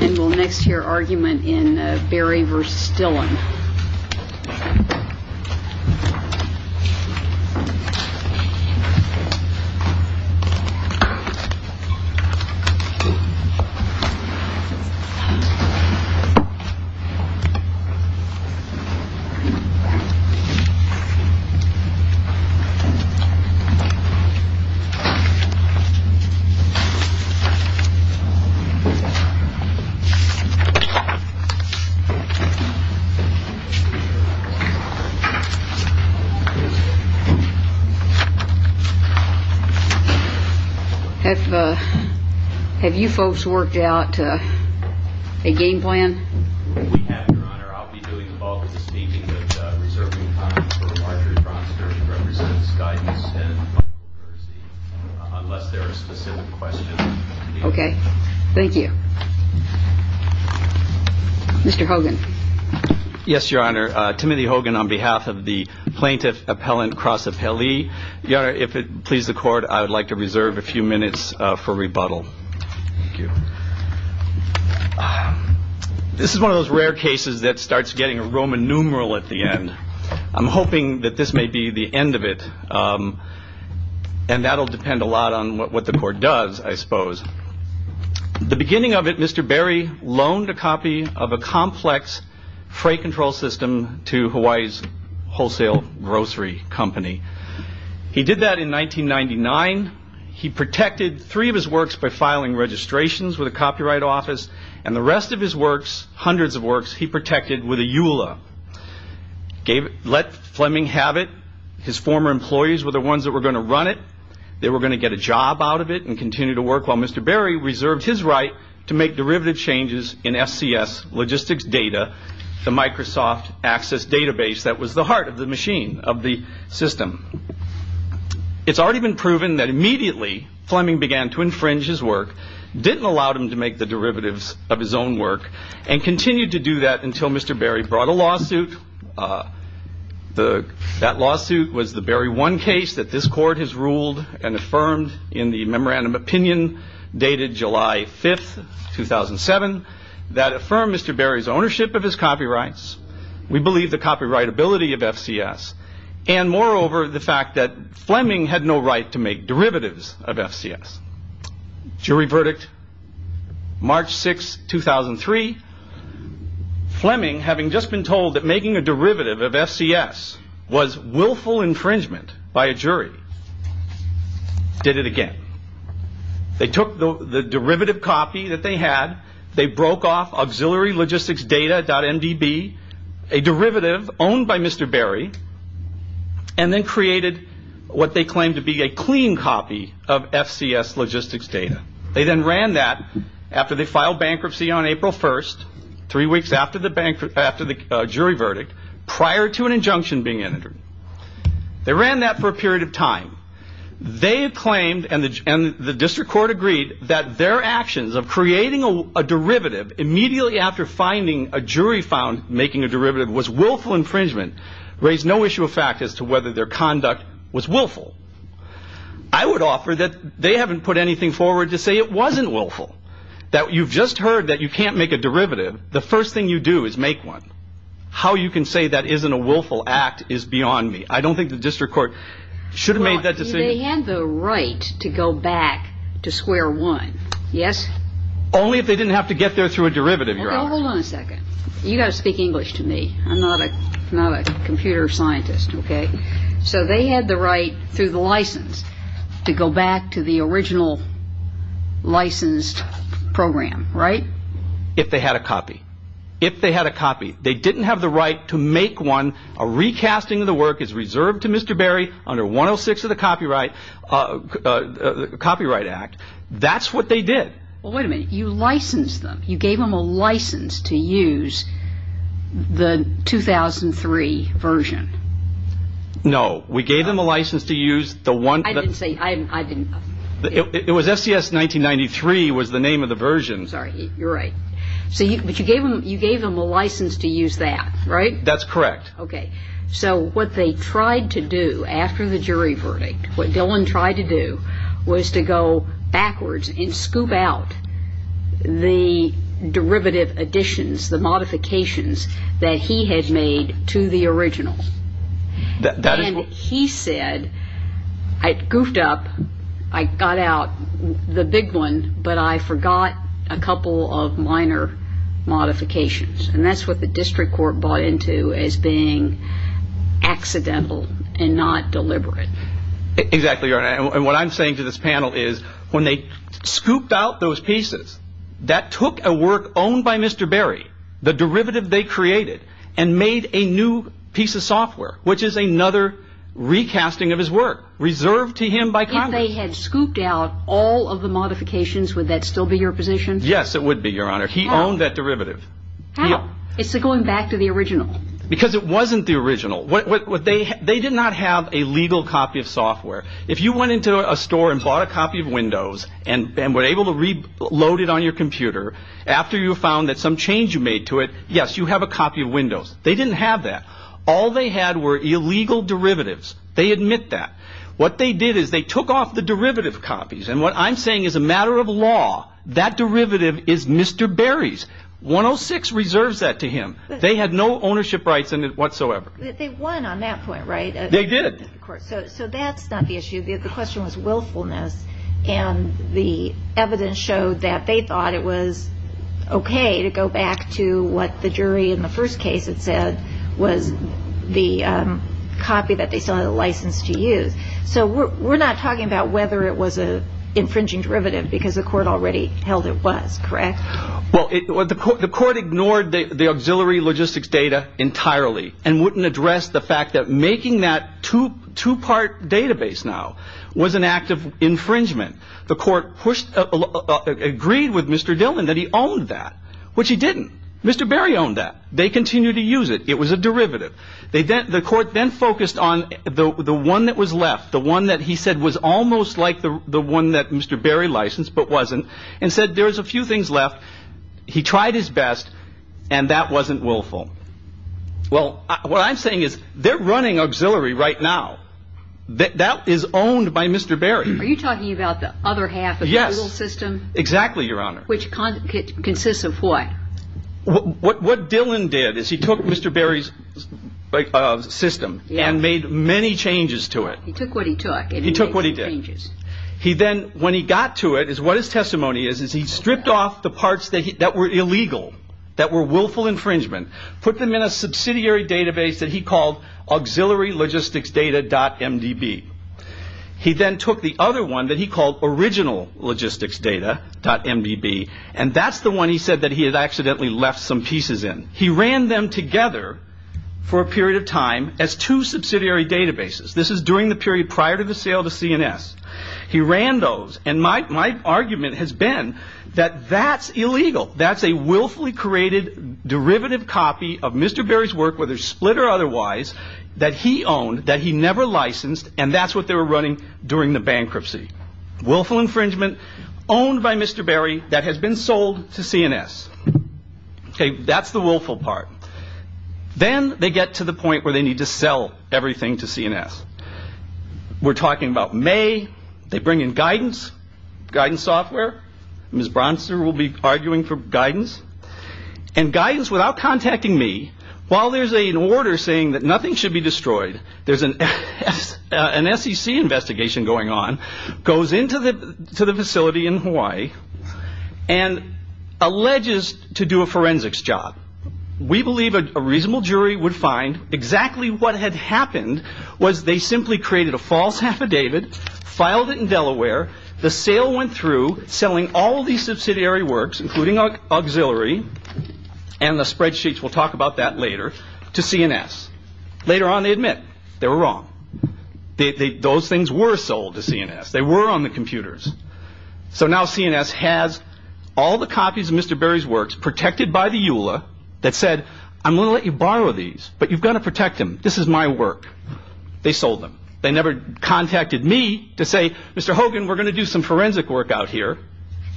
And we'll next hear argument in Berry v. Stillen. Have you folks worked out a game plan? We have, Your Honor. I'll be doing the bulk of the staging, but reserving time for larger Mr. Hogan. Yes, Your Honor. Timothy Hogan on behalf of the Plaintiff Appellant Cross Appellee. Your Honor, if it pleases the court, I would like to reserve a few minutes for rebuttal. Thank you. This is one of those rare cases that starts getting a Roman numeral at the end. I'm hoping that this may be the end of it. And that'll depend a lot on what the court does, I suppose. The beginning of it, Mr. Berry loaned a copy of a complex freight control system to Hawaii's wholesale grocery company. He did that in 1999. He protected three of his works by filing registrations with a copyright office. And the rest of his works, hundreds of works, he protected with a EULA. Let Fleming have it. His former employees were the ones that were going to run it. They were going to get a job out of it and continue to work, while Mr. Berry reserved his right to make derivative changes in SCS logistics data, the Microsoft Access database that was the heart of the machine, of the system. It's already been proven that immediately Fleming began to infringe his work, didn't allow him to make the derivatives of his own work, and continued to do that until Mr. Berry brought a lawsuit. That lawsuit was the Berry 1 case that this court has ruled and affirmed in the memorandum opinion dated July 5, 2007, that affirmed Mr. Berry's ownership of his copyrights. We believe the copyrightability of FCS. And moreover, the fact that Fleming had no right to make derivatives of FCS. Jury verdict, March 6, 2003. Fleming, having just been told that making a derivative of FCS was willful infringement by a jury, did it again. They took the derivative copy that they had, they broke off auxiliary logistics data.mdb, a derivative owned by Mr. Berry, and then created what they claimed to be a clean copy of FCS logistics data. They then ran that after they filed bankruptcy on April 1, three weeks after the jury verdict, prior to an injunction being entered. They ran that for a period of time. They claimed, and the district court agreed, that their actions of creating a derivative immediately after finding a jury found making a derivative was willful infringement, raised no issue of fact as to whether their conduct was willful. I would offer that they haven't put anything forward to say it wasn't willful. That you've just heard that you can't make a derivative, the first thing you do is make one. How you can say that isn't a willful act is beyond me. I don't think the district court should have made that decision. They had the right to go back to square one, yes? Only if they didn't have to get there through a derivative, Your Honor. Okay, hold on a second. You've got to speak English to me. I'm not a computer scientist, okay? So they had the right through the license to go back to the original licensed program, right? If they had a copy. If they had a copy. They didn't have the right to make one. A recasting of the work is reserved to Mr. Berry under 106 of the Copyright Act. Well, wait a minute. You licensed them. You gave them a license to use the 2003 version. No, we gave them a license to use the one... I didn't say... It was SCS 1993 was the name of the version. Sorry, you're right. But you gave them a license to use that, right? That's correct. Okay, so what they tried to do after the jury verdict, what Dillon tried to do was to go backwards and scoop out the derivative additions, the modifications that he had made to the original. And he said, I goofed up. I got out the big one, but I forgot a couple of minor modifications. And that's what the district court bought into as being accidental and not deliberate. Exactly, Your Honor. And what I'm saying to this panel is when they scooped out those pieces, that took a work owned by Mr. Berry, the derivative they created, and made a new piece of software, which is another recasting of his work, reserved to him by Congress. If they had scooped out all of the modifications, would that still be your position? Yes, it would be, Your Honor. He owned that derivative. How? It's going back to the original. Because it wasn't the original. They did not have a legal copy of software. If you went into a store and bought a copy of Windows and were able to reload it on your computer, after you found that some change you made to it, yes, you have a copy of Windows. They didn't have that. All they had were illegal derivatives. They admit that. What they did is they took off the derivative copies. And what I'm saying is a matter of law, that derivative is Mr. Berry's. 106 reserves that to him. They had no ownership rights in it whatsoever. They won on that point, right? They did. So that's not the issue. The question was willfulness. And the evidence showed that they thought it was okay to go back to what the jury in the first case had said was the copy that they still had a license to use. So we're not talking about whether it was an infringing derivative because the court already held it was, correct? Well, the court ignored the auxiliary logistics data entirely and wouldn't address the fact that making that two-part database now was an act of infringement. The court agreed with Mr. Dillon that he owned that, which he didn't. Mr. Berry owned that. They continued to use it. It was a derivative. The court then focused on the one that was left, the one that he said was almost like the one that Mr. Berry licensed but wasn't, and said there was a few things left. He tried his best, and that wasn't willful. Well, what I'm saying is they're running auxiliary right now. That is owned by Mr. Berry. Are you talking about the other half of the legal system? Yes. Exactly, Your Honor. Which consists of what? What Dillon did is he took Mr. Berry's system and made many changes to it. He took what he took. He took what he did. When he got to it, what his testimony is is he stripped off the parts that were illegal, that were willful infringement, put them in a subsidiary database that he called auxiliary logistics data.mdb. He then took the other one that he called original logistics data.mdb, and that's the one he said that he had accidentally left some pieces in. He ran them together for a period of time as two subsidiary databases. This is during the period prior to the sale to CNS. He ran those, and my argument has been that that's illegal. That's a willfully created derivative copy of Mr. Berry's work, whether split or otherwise, that he owned, that he never licensed, and that's what they were running during the bankruptcy. Willful infringement owned by Mr. Berry that has been sold to CNS. That's the willful part. Then they get to the point where they need to sell everything to CNS. We're talking about May. They bring in guidance, guidance software. Ms. Bronster will be arguing for guidance. Guidance, without contacting me, while there's an order saying that nothing should be destroyed, there's an SEC investigation going on, goes into the facility in Hawaii and alleges to do a forensics job. We believe a reasonable jury would find exactly what had happened was they simply created a false affidavit, filed it in Delaware. The sale went through, selling all these subsidiary works, including auxiliary, and the spreadsheets, we'll talk about that later, to CNS. Later on, they admit they were wrong. Those things were sold to CNS. They were on the computers. So now CNS has all the copies of Mr. Berry's works protected by the EULA that said, I'm going to let you borrow these, but you've got to protect them. This is my work. They sold them. They never contacted me to say, Mr. Hogan, we're going to do some forensic work out here,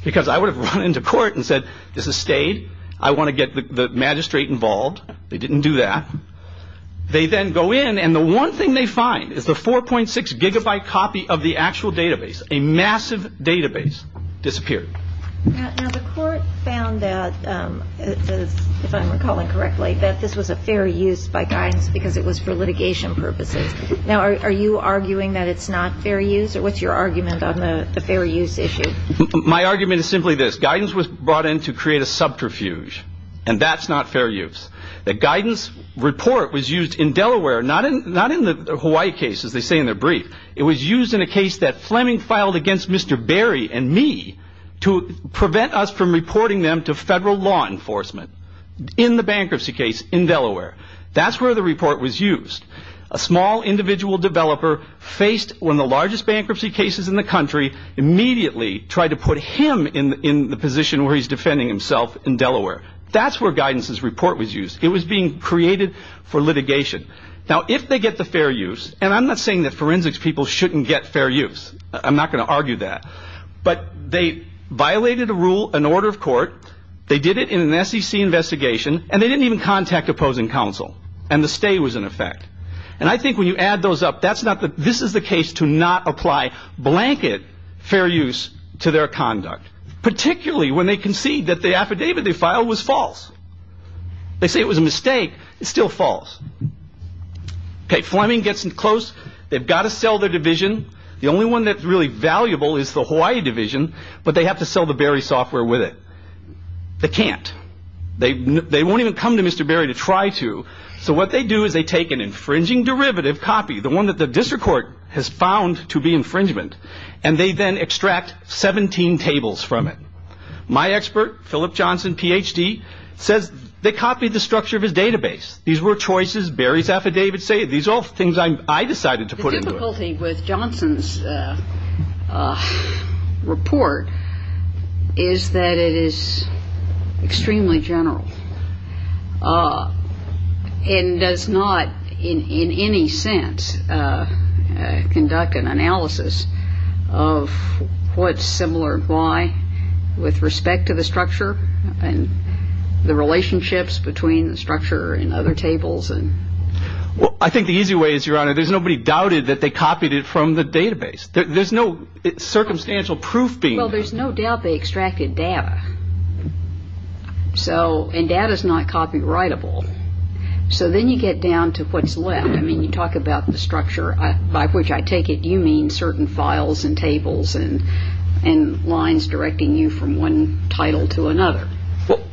because I would have run into court and said, this is stayed. I want to get the magistrate involved. They didn't do that. They then go in, and the one thing they find is the 4.6 gigabyte copy of the actual database, a massive database, disappeared. Now, the court found that, if I'm recalling correctly, that this was a fair use by guidance because it was for litigation purposes. Now, are you arguing that it's not fair use, or what's your argument on the fair use issue? My argument is simply this. Guidance was brought in to create a subterfuge, and that's not fair use. The guidance report was used in Delaware, not in the Hawaii case, as they say in their brief. It was used in a case that Fleming filed against Mr. Berry and me to prevent us from reporting them to federal law enforcement in the bankruptcy case in Delaware. That's where the report was used. A small individual developer faced one of the largest bankruptcy cases in the country, immediately tried to put him in the position where he's defending himself in Delaware. That's where guidance's report was used. It was being created for litigation. Now, if they get the fair use, and I'm not saying that forensics people shouldn't get fair use. I'm not going to argue that. But they violated a rule, an order of court. They did it in an SEC investigation, and they didn't even contact opposing counsel, and the stay was in effect. And I think when you add those up, this is the case to not apply blanket fair use to their conduct, particularly when they concede that the affidavit they filed was false. They say it was a mistake. It's still false. Okay, Fleming gets in close. They've got to sell their division. The only one that's really valuable is the Hawaii division, but they have to sell the Berry software with it. They can't. They won't even come to Mr. Berry to try to. So what they do is they take an infringing derivative copy, the one that the district court has found to be infringement, and they then extract 17 tables from it. My expert, Philip Johnson, Ph.D., says they copied the structure of his database. These were choices, Berry's affidavit. These are all things I decided to put into it. The difficulty with Johnson's report is that it is extremely general and does not in any sense conduct an analysis of what's similar, why, with respect to the structure and the relationships between the structure and other tables. Well, I think the easy way is, Your Honor, there's nobody doubted that they copied it from the database. There's no circumstantial proof being. Well, there's no doubt they extracted data. And data is not copyrightable. So then you get down to what's left. I mean, you talk about the structure by which I take it. You mean certain files and tables and lines directing you from one title to another.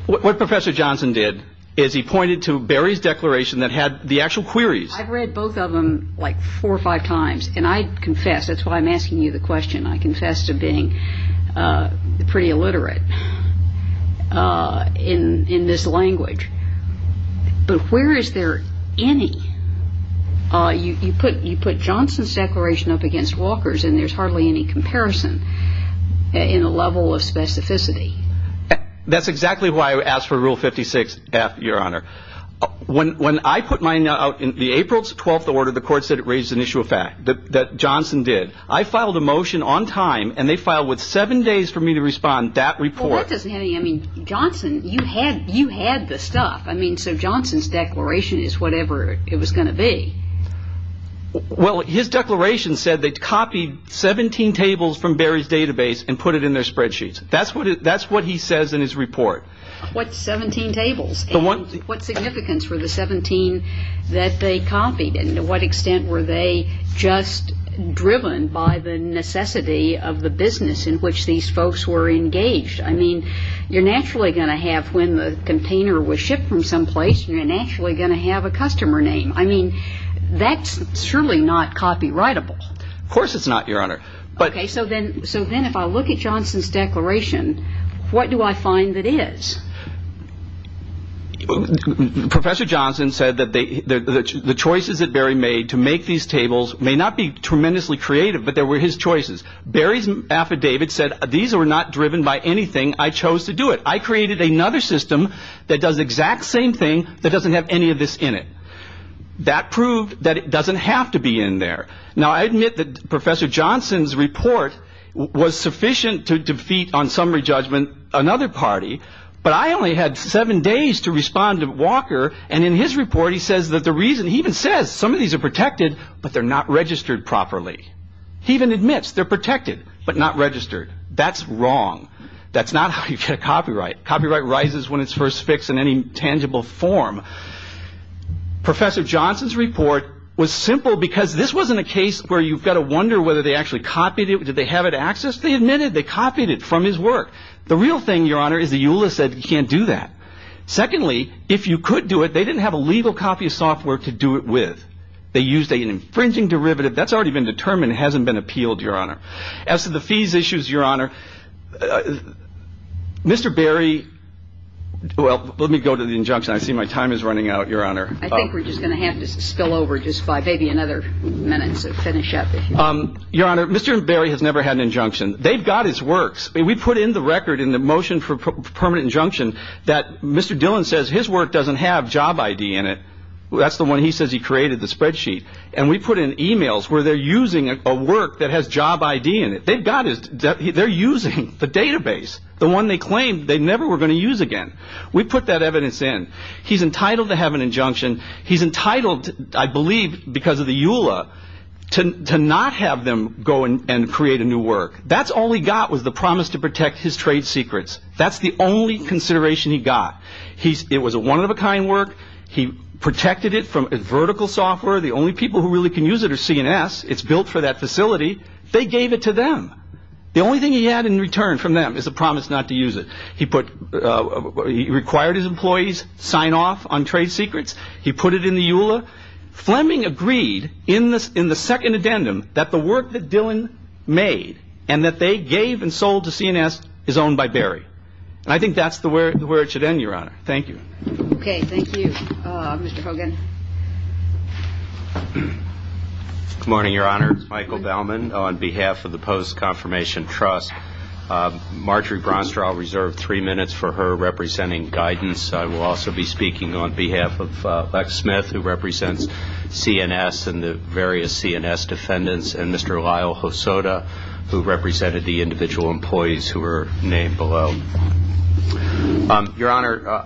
What Professor Johnson did is he pointed to Berry's declaration that had the actual queries. I've read both of them like four or five times, and I confess. That's why I'm asking you the question. I confess to being pretty illiterate in this language. But where is there any? You put Johnson's declaration up against Walker's, and there's hardly any comparison in a level of specificity. That's exactly why I asked for Rule 56-F, Your Honor. When I put mine out in the April 12th order, the court said it raised an issue of fact, that Johnson did. I filed a motion on time, and they filed with seven days for me to respond that report. Well, that doesn't have any. I mean, Johnson, you had the stuff. I mean, so Johnson's declaration is whatever it was going to be. Well, his declaration said they copied 17 tables from Berry's database and put it in their spreadsheets. That's what he says in his report. What 17 tables? And what significance were the 17 that they copied? And to what extent were they just driven by the necessity of the business in which these folks were engaged? I mean, you're naturally going to have when the container was shipped from some place, you're naturally going to have a customer name. I mean, that's surely not copyrightable. Of course it's not, Your Honor. Okay, so then if I look at Johnson's declaration, what do I find that is? Professor Johnson said that the choices that Berry made to make these tables may not be tremendously creative, but they were his choices. Berry's affidavit said these were not driven by anything. I chose to do it. I created another system that does the exact same thing that doesn't have any of this in it. That proved that it doesn't have to be in there. Now, I admit that Professor Johnson's report was sufficient to defeat on summary judgment another party, but I only had seven days to respond to Walker, and in his report he says that the reason he even says some of these are protected, but they're not registered properly. He even admits they're protected, but not registered. That's wrong. That's not how you get a copyright. Copyright rises when it's first fixed in any tangible form. Professor Johnson's report was simple because this wasn't a case where you've got to wonder whether they actually copied it. Did they have it accessed? They admitted they copied it from his work. The real thing, Your Honor, is that EULA said you can't do that. Secondly, if you could do it, they didn't have a legal copy of software to do it with. They used an infringing derivative. That's already been determined. It hasn't been appealed, Your Honor. As to the fees issues, Your Honor, Mr. Berry, well, let me go to the injunction. I see my time is running out, Your Honor. I think we're just going to have to spill over just by maybe another minute to finish up. Your Honor, Mr. Berry has never had an injunction. They've got his works. We put in the record in the motion for permanent injunction that Mr. Dillon says his work doesn't have job ID in it. That's the one he says he created, the spreadsheet. And we put in e-mails where they're using a work that has job ID in it. They've got his. They're using the database, the one they claimed they never were going to use again. We put that evidence in. He's entitled to have an injunction. He's entitled, I believe because of the EULA, to not have them go and create a new work. That's all he got was the promise to protect his trade secrets. That's the only consideration he got. It was a one-of-a-kind work. He protected it from vertical software. The only people who really can use it are CNS. It's built for that facility. They gave it to them. The only thing he had in return from them is a promise not to use it. He required his employees sign off on trade secrets. He put it in the EULA. Fleming agreed in the second addendum that the work that Dillon made and that they gave and sold to CNS is owned by Barry. And I think that's where it should end, Your Honor. Thank you. Okay, thank you. Mr. Hogan. Good morning, Your Honor. It's Michael Bellman on behalf of the Post Confirmation Trust. Marjorie Bronstra, I'll reserve three minutes for her representing guidance. I will also be speaking on behalf of Lex Smith, who represents CNS and the various CNS defendants, and Mr. Lyle Hosoda, who represented the individual employees who were named below. Your Honor,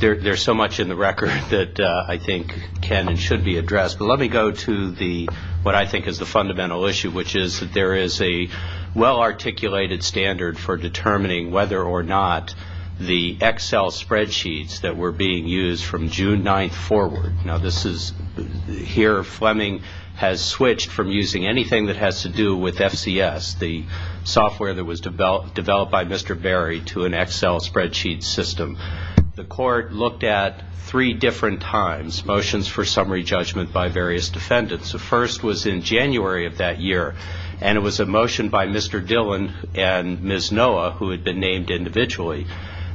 there's so much in the record that I think can and should be addressed. But let me go to what I think is the fundamental issue, which is that there is a well-articulated standard for determining whether or not the Excel spreadsheets that were being used from June 9th forward. Now, this is here. Fleming has switched from using anything that has to do with FCS, the software that was developed by Mr. Barry, to an Excel spreadsheet system. The court looked at three different times, motions for summary judgment by various defendants. The first was in January of that year, and it was a motion by Mr. Dillon and Ms. Noah, who had been named individually.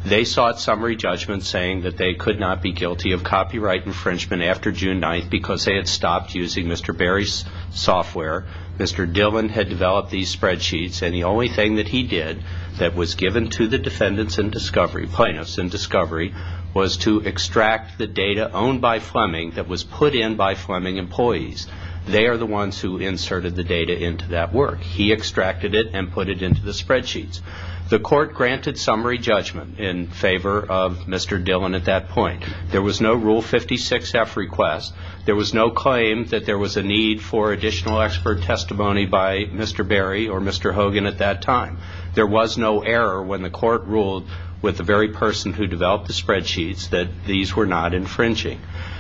They sought summary judgment saying that they could not be guilty of copyright infringement after June 9th because they had stopped using Mr. Barry's software. Mr. Dillon had developed these spreadsheets, and the only thing that he did that was given to the defendants in discovery, plaintiffs in discovery, was to extract the data owned by Fleming that was put in by Fleming employees. They are the ones who inserted the data into that work. He extracted it and put it into the spreadsheets. The court granted summary judgment in favor of Mr. Dillon at that point. There was no Rule 56-F request. There was no claim that there was a need for additional expert testimony by Mr. Barry or Mr. Hogan at that time. There was no error when the court ruled with the very person who developed the spreadsheets that these were not infringing.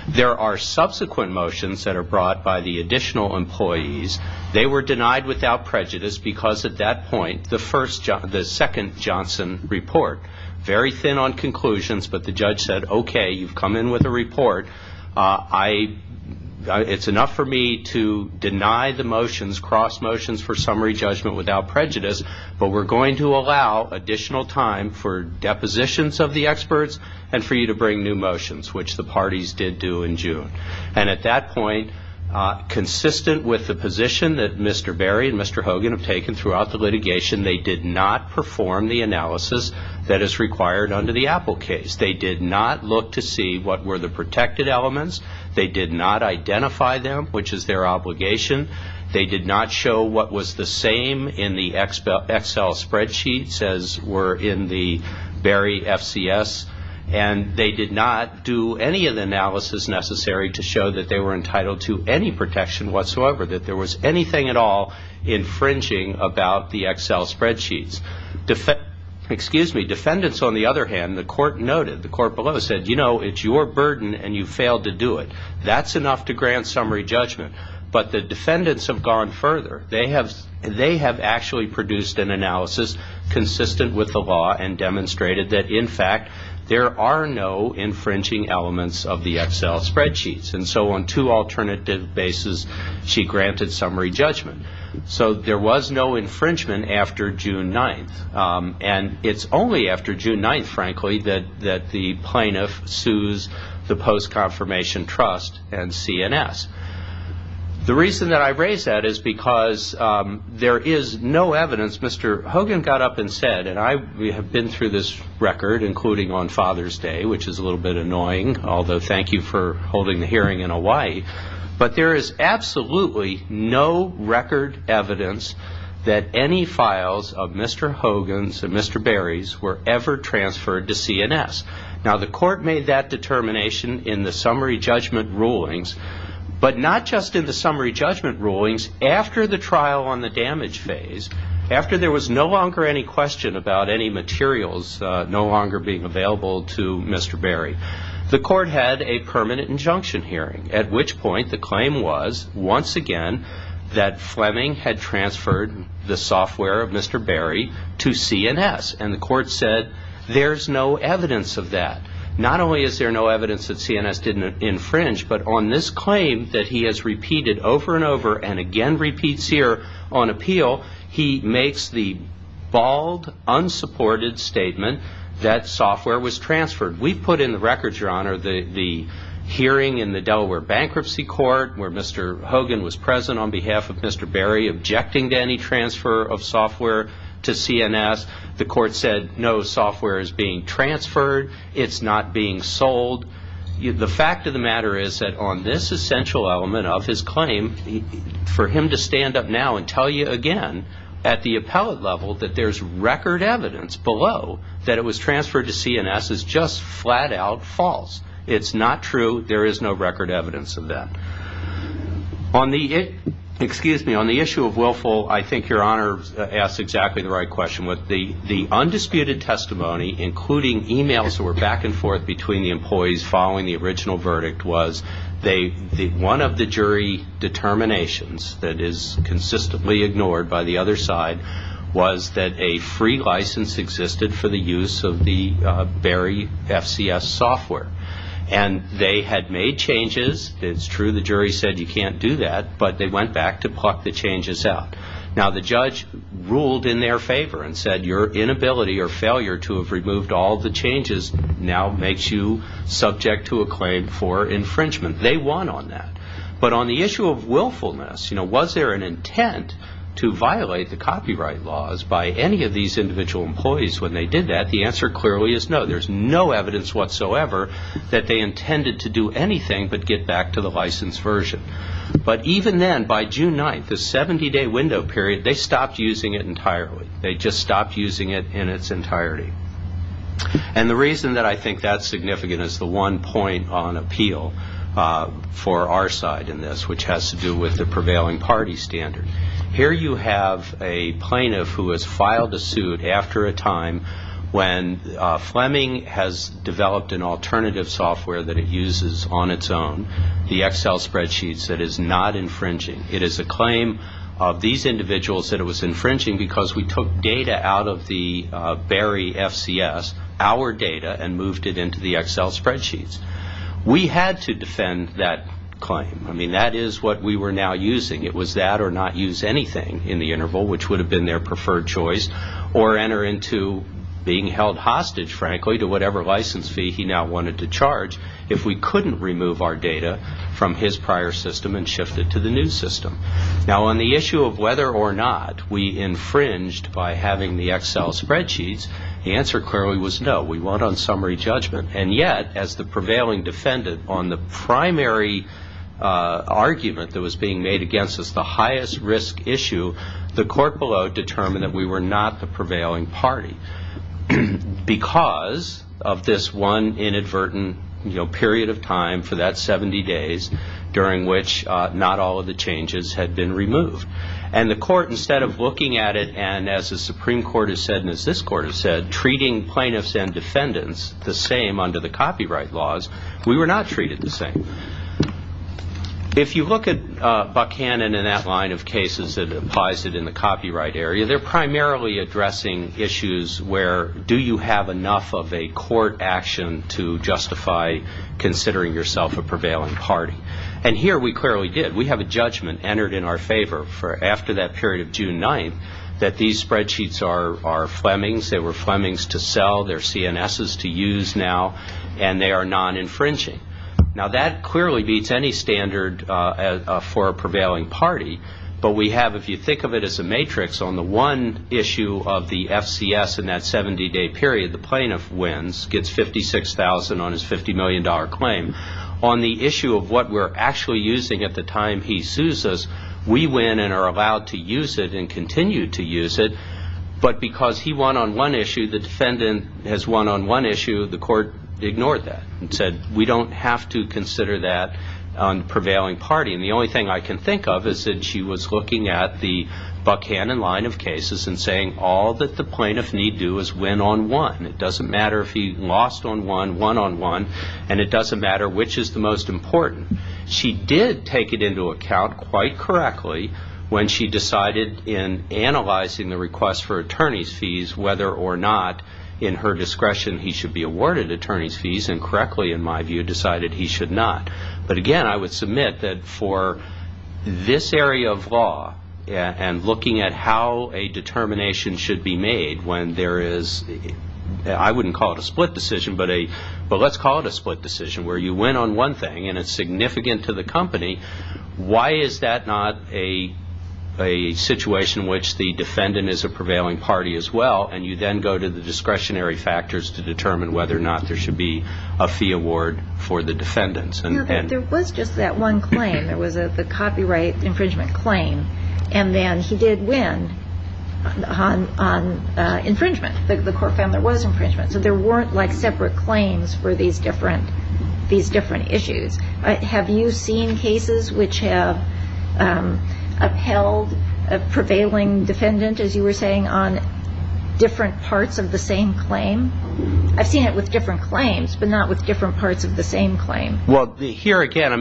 There are subsequent motions that are brought by the additional employees. They were denied without prejudice because, at that point, the second Johnson report, very thin on conclusions, but the judge said, okay, you've come in with a report. It's enough for me to deny the motions, cross motions for summary judgment without prejudice, but we're going to allow additional time for depositions of the experts and for you to bring new motions, which the parties did do in June. And at that point, consistent with the position that Mr. Barry and Mr. Hogan have taken throughout the litigation, they did not perform the analysis that is required under the Apple case. They did not look to see what were the protected elements. They did not identify them, which is their obligation. They did not show what was the same in the Excel spreadsheets as were in the Barry FCS, and they did not do any of the analysis necessary to show that they were entitled to any protection whatsoever, that there was anything at all infringing about the Excel spreadsheets. Defendants, on the other hand, the court noted, the court below said, you know, it's your burden and you failed to do it. That's enough to grant summary judgment. But the defendants have gone further. They have actually produced an analysis consistent with the law and demonstrated that, in fact, there are no infringing elements of the Excel spreadsheets. And so on two alternative bases, she granted summary judgment. So there was no infringement after June 9th, and it's only after June 9th, frankly, that the plaintiff sues the Post Confirmation Trust and CNS. The reason that I raise that is because there is no evidence. Mr. Hogan got up and said, and we have been through this record, including on Father's Day, which is a little bit annoying, although thank you for holding the hearing in Hawaii, but there is absolutely no record evidence that any files of Mr. Hogan's and Mr. Berry's were ever transferred to CNS. Now, the court made that determination in the summary judgment rulings, but not just in the summary judgment rulings. After the trial on the damage phase, after there was no longer any question about any materials no longer being available to Mr. Berry, the court had a permanent injunction hearing, at which point the claim was once again that Fleming had transferred the software of Mr. Berry to CNS. And the court said there's no evidence of that. Not only is there no evidence that CNS didn't infringe, but on this claim that he has repeated over and over and again repeats here on appeal, he makes the bald, unsupported statement that software was transferred. We put in the records, Your Honor, the hearing in the Delaware Bankruptcy Court where Mr. Hogan was present on behalf of Mr. Berry objecting to any transfer of software to CNS. The court said no software is being transferred. It's not being sold. The fact of the matter is that on this essential element of his claim, for him to stand up now and tell you again at the appellate level that there's record evidence below that it was transferred to CNS is just flat-out false. It's not true. There is no record evidence of that. On the issue of Willful, I think Your Honor asks exactly the right question. The undisputed testimony, including e-mails that were back and forth between the employees following the original verdict, was one of the jury determinations that is consistently ignored by the other side was that a free license existed for the use of the Berry FCS software. And they had made changes. It's true the jury said you can't do that, but they went back to pluck the changes out. Now the judge ruled in their favor and said your inability or failure to have removed all the changes now makes you subject to a claim for infringement. They won on that. But on the issue of willfulness, was there an intent to violate the copyright laws by any of these individual employees when they did that? The answer clearly is no. There's no evidence whatsoever that they intended to do anything but get back to the licensed version. But even then, by June 9th, the 70-day window period, they stopped using it entirely. They just stopped using it in its entirety. And the reason that I think that's significant is the one point on appeal for our side in this, which has to do with the prevailing party standard. Here you have a plaintiff who has filed a suit after a time when Fleming has developed an alternative software that it uses on its own, the Excel spreadsheets, that is not infringing. It is a claim of these individuals that it was infringing because we took data out of the Berry FCS, our data, and moved it into the Excel spreadsheets. We had to defend that claim. I mean, that is what we were now using. It was that or not use anything in the interval, which would have been their preferred choice, or enter into being held hostage, frankly, to whatever license fee he now wanted to charge if we couldn't remove our data from his prior system and shift it to the new system. Now, on the issue of whether or not we infringed by having the Excel spreadsheets, the answer clearly was no. We went on summary judgment. And yet, as the prevailing defendant on the primary argument that was being made against us, the highest risk issue, the court below determined that we were not the prevailing party. Because of this one inadvertent period of time for that 70 days, during which not all of the changes had been removed. And the court, instead of looking at it and, as the Supreme Court has said and as this court has said, treating plaintiffs and defendants the same under the copyright laws, we were not treated the same. If you look at Buchanan and that line of cases that applies it in the copyright area, they're primarily addressing issues where do you have enough of a court action to justify considering yourself a prevailing party. And here we clearly did. We have a judgment entered in our favor for after that period of June 9th that these spreadsheets are Fleming's. They were Fleming's to sell. They're CNS's to use now. And they are non-infringing. Now, that clearly beats any standard for a prevailing party. But we have, if you think of it as a matrix, on the one issue of the FCS in that 70-day period, the plaintiff wins, gets $56,000 on his $50 million claim. On the issue of what we're actually using at the time he sues us, we win and are allowed to use it and continue to use it. But because he won on one issue, the defendant has won on one issue, the court ignored that and said we don't have to consider that on prevailing party. And the only thing I can think of is that she was looking at the Buckhannon line of cases and saying all that the plaintiff need do is win on one. It doesn't matter if he lost on one, won on one, and it doesn't matter which is the most important. She did take it into account quite correctly when she decided in analyzing the request for attorney's fees whether or not in her discretion he should be awarded attorney's fees and correctly, in my view, decided he should not. But again, I would submit that for this area of law and looking at how a determination should be made when there is, I wouldn't call it a split decision, but let's call it a split decision where you win on one thing and it's significant to the company. Why is that not a situation in which the defendant is a prevailing party as well and you then go to the discretionary factors to determine whether or not there should be a fee award for the defendants? There was just that one claim. There was the copyright infringement claim, and then he did win on infringement. The court found there was infringement. So there weren't like separate claims for these different issues. Have you seen cases which have upheld a prevailing defendant, as you were saying, on different parts of the same claim? I've seen it with different claims, but not with different parts of the same claim. Well, here again,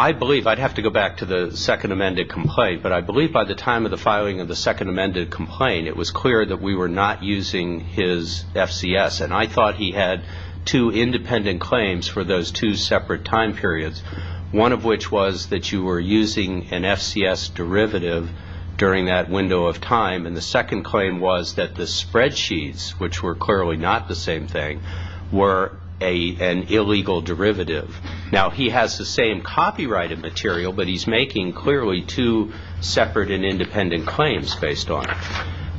I believe, I'd have to go back to the second amended complaint, but I believe by the time of the filing of the second amended complaint, it was clear that we were not using his FCS, and I thought he had two independent claims for those two separate time periods, one of which was that you were using an FCS derivative during that window of time, and the second claim was that the spreadsheets, which were clearly not the same thing, were an illegal derivative. Now, he has the same copyrighted material, but he's making clearly two separate and independent claims based on it.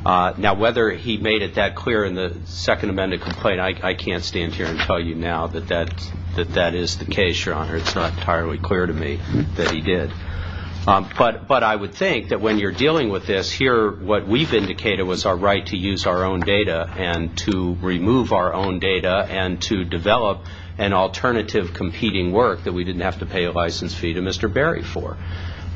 Now, whether he made it that clear in the second amended complaint, I can't stand here and tell you now that that is the case, Your Honor. It's not entirely clear to me that he did. But I would think that when you're dealing with this, here what we've indicated was our right to use our own data and to remove our own data and to develop an alternative competing work that we didn't have to pay a license fee to Mr. Berry for.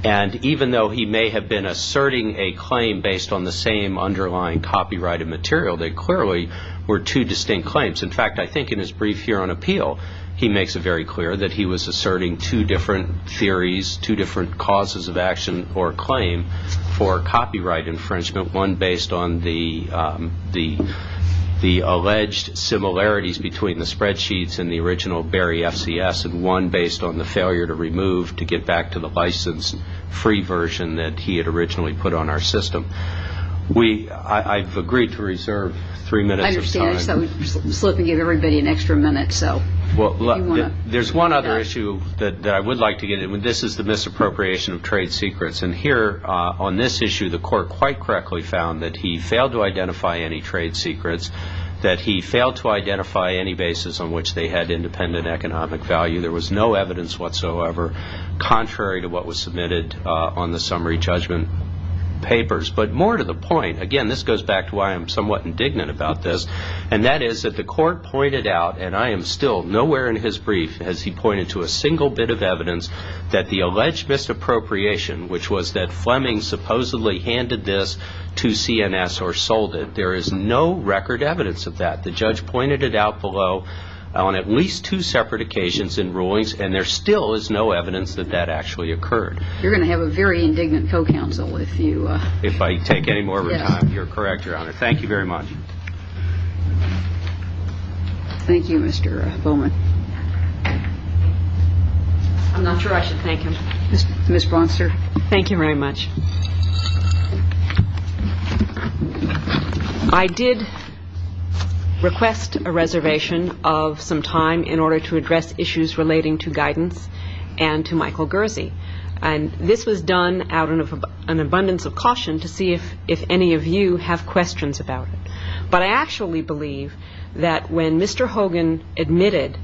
And even though he may have been asserting a claim based on the same underlying copyrighted material, they clearly were two distinct claims. In fact, I think in his brief here on appeal, he makes it very clear that he was asserting two different theories, two different causes of action or claim for copyright infringement, one based on the alleged similarities between the spreadsheets and the original Berry FCS and one based on the failure to remove to get back to the license-free version that he had originally put on our system. I've agreed to reserve three minutes of time. I guess that would slip and give everybody an extra minute. There's one other issue that I would like to get in. This is the misappropriation of trade secrets. And here on this issue, the court quite correctly found that he failed to identify any trade secrets, that he failed to identify any basis on which they had independent economic value. There was no evidence whatsoever contrary to what was submitted on the summary judgment papers. But more to the point, again, this goes back to why I'm somewhat indignant about this. And that is that the court pointed out, and I am still nowhere in his brief has he pointed to a single bit of evidence that the alleged misappropriation, which was that Fleming supposedly handed this to CNS or sold it. There is no record evidence of that. The judge pointed it out below on at least two separate occasions in rulings, and there still is no evidence that that actually occurred. You're going to have a very indignant co-counsel if you— Thank you very much. Thank you, Mr. Bowman. I'm not sure I should thank him. Ms. Bronster. Thank you very much. I did request a reservation of some time in order to address issues relating to guidance and to Michael Gersey. And this was done out of an abundance of caution to see if any of you have questions about it. But I actually believe that when Mr. Hogan admitted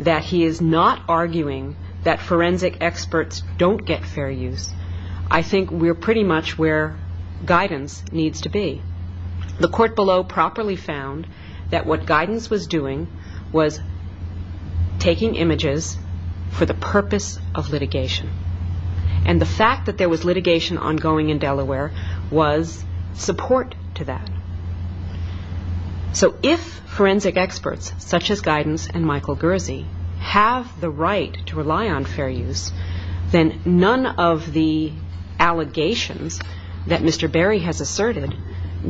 that he is not arguing that forensic experts don't get fair use, I think we're pretty much where guidance needs to be. The court below properly found that what guidance was doing was taking images for the purpose of litigation. And the fact that there was litigation ongoing in Delaware was support to that. So if forensic experts such as guidance and Michael Gersey have the right to rely on fair use, then none of the allegations that Mr. Berry has asserted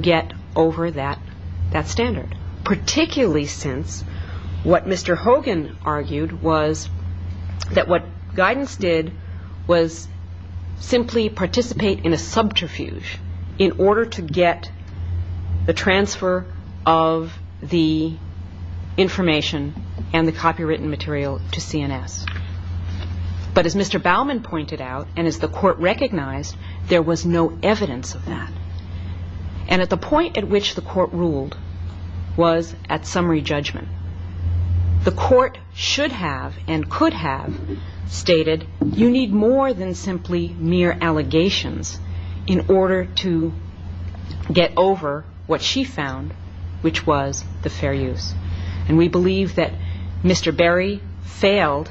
get over that standard, particularly since what Mr. Hogan argued was that what guidance did was simply participate in a subterfuge in order to get the transfer of the information and the copywritten material to CNS. But as Mr. Baumann pointed out and as the court recognized, there was no evidence of that. And at the point at which the court ruled was at summary judgment. The court should have and could have stated you need more than simply mere allegations in order to get over what she found, which was the fair use. And we believe that Mr. Berry failed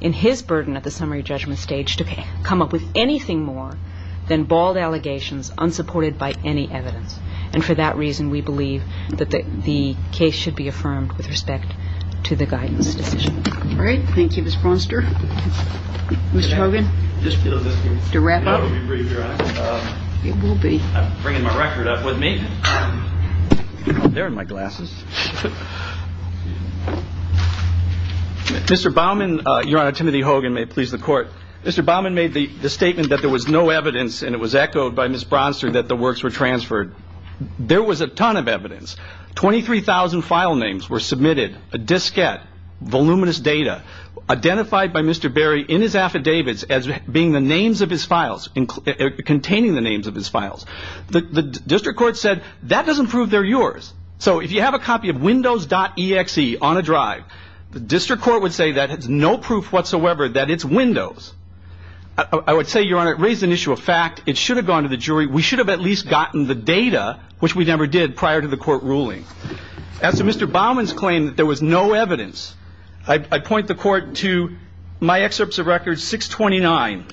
in his burden at the summary judgment stage to come up with anything more than bald allegations unsupported by any evidence. And for that reason, we believe that the case should be affirmed with respect to the guidance decision. All right. Thank you, Ms. Braunster. Mr. Hogan, to wrap up. I'm bringing my record up with me. There are my glasses. Mr. Baumann, Your Honor, Timothy Hogan, may it please the court. Mr. Baumann made the statement that there was no evidence and it was echoed by Ms. Braunster that the works were transferred. There was a ton of evidence. Twenty-three thousand file names were submitted, a diskette, voluminous data, identified by Mr. Berry in his affidavits as being the names of his files, containing the names of his files. The district court said that doesn't prove they're yours. So if you have a copy of Windows.exe on a drive, the district court would say that has no proof whatsoever that it's Windows. I would say, Your Honor, it raised an issue of fact. It should have gone to the jury. We should have at least gotten the data, which we never did prior to the court ruling. As to Mr. Baumann's claim that there was no evidence, I point the court to my excerpts of record 629.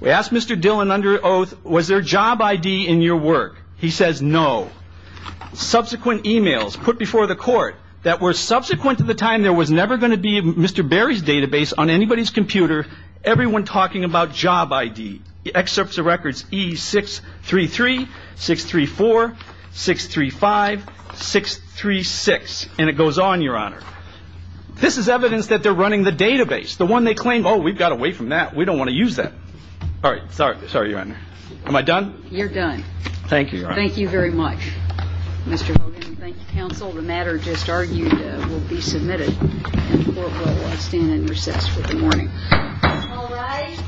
We asked Mr. Dillon under oath, was there a job I.D. in your work? He says no. Subsequent e-mails put before the court that were subsequent to the time there was never going to be Mr. Berry's database on anybody's computer, everyone talking about job I.D. The excerpts of records E633, 634, 635, 636, and it goes on, Your Honor. This is evidence that they're running the database. The one they claim, oh, we've got away from that. We don't want to use that. All right. Sorry, Your Honor. Am I done? You're done. Thank you, Your Honor. Thank you very much, Mr. Baumann. Thank you, counsel. The matter just argued will be submitted and the court will stand in recess for the morning. All rise.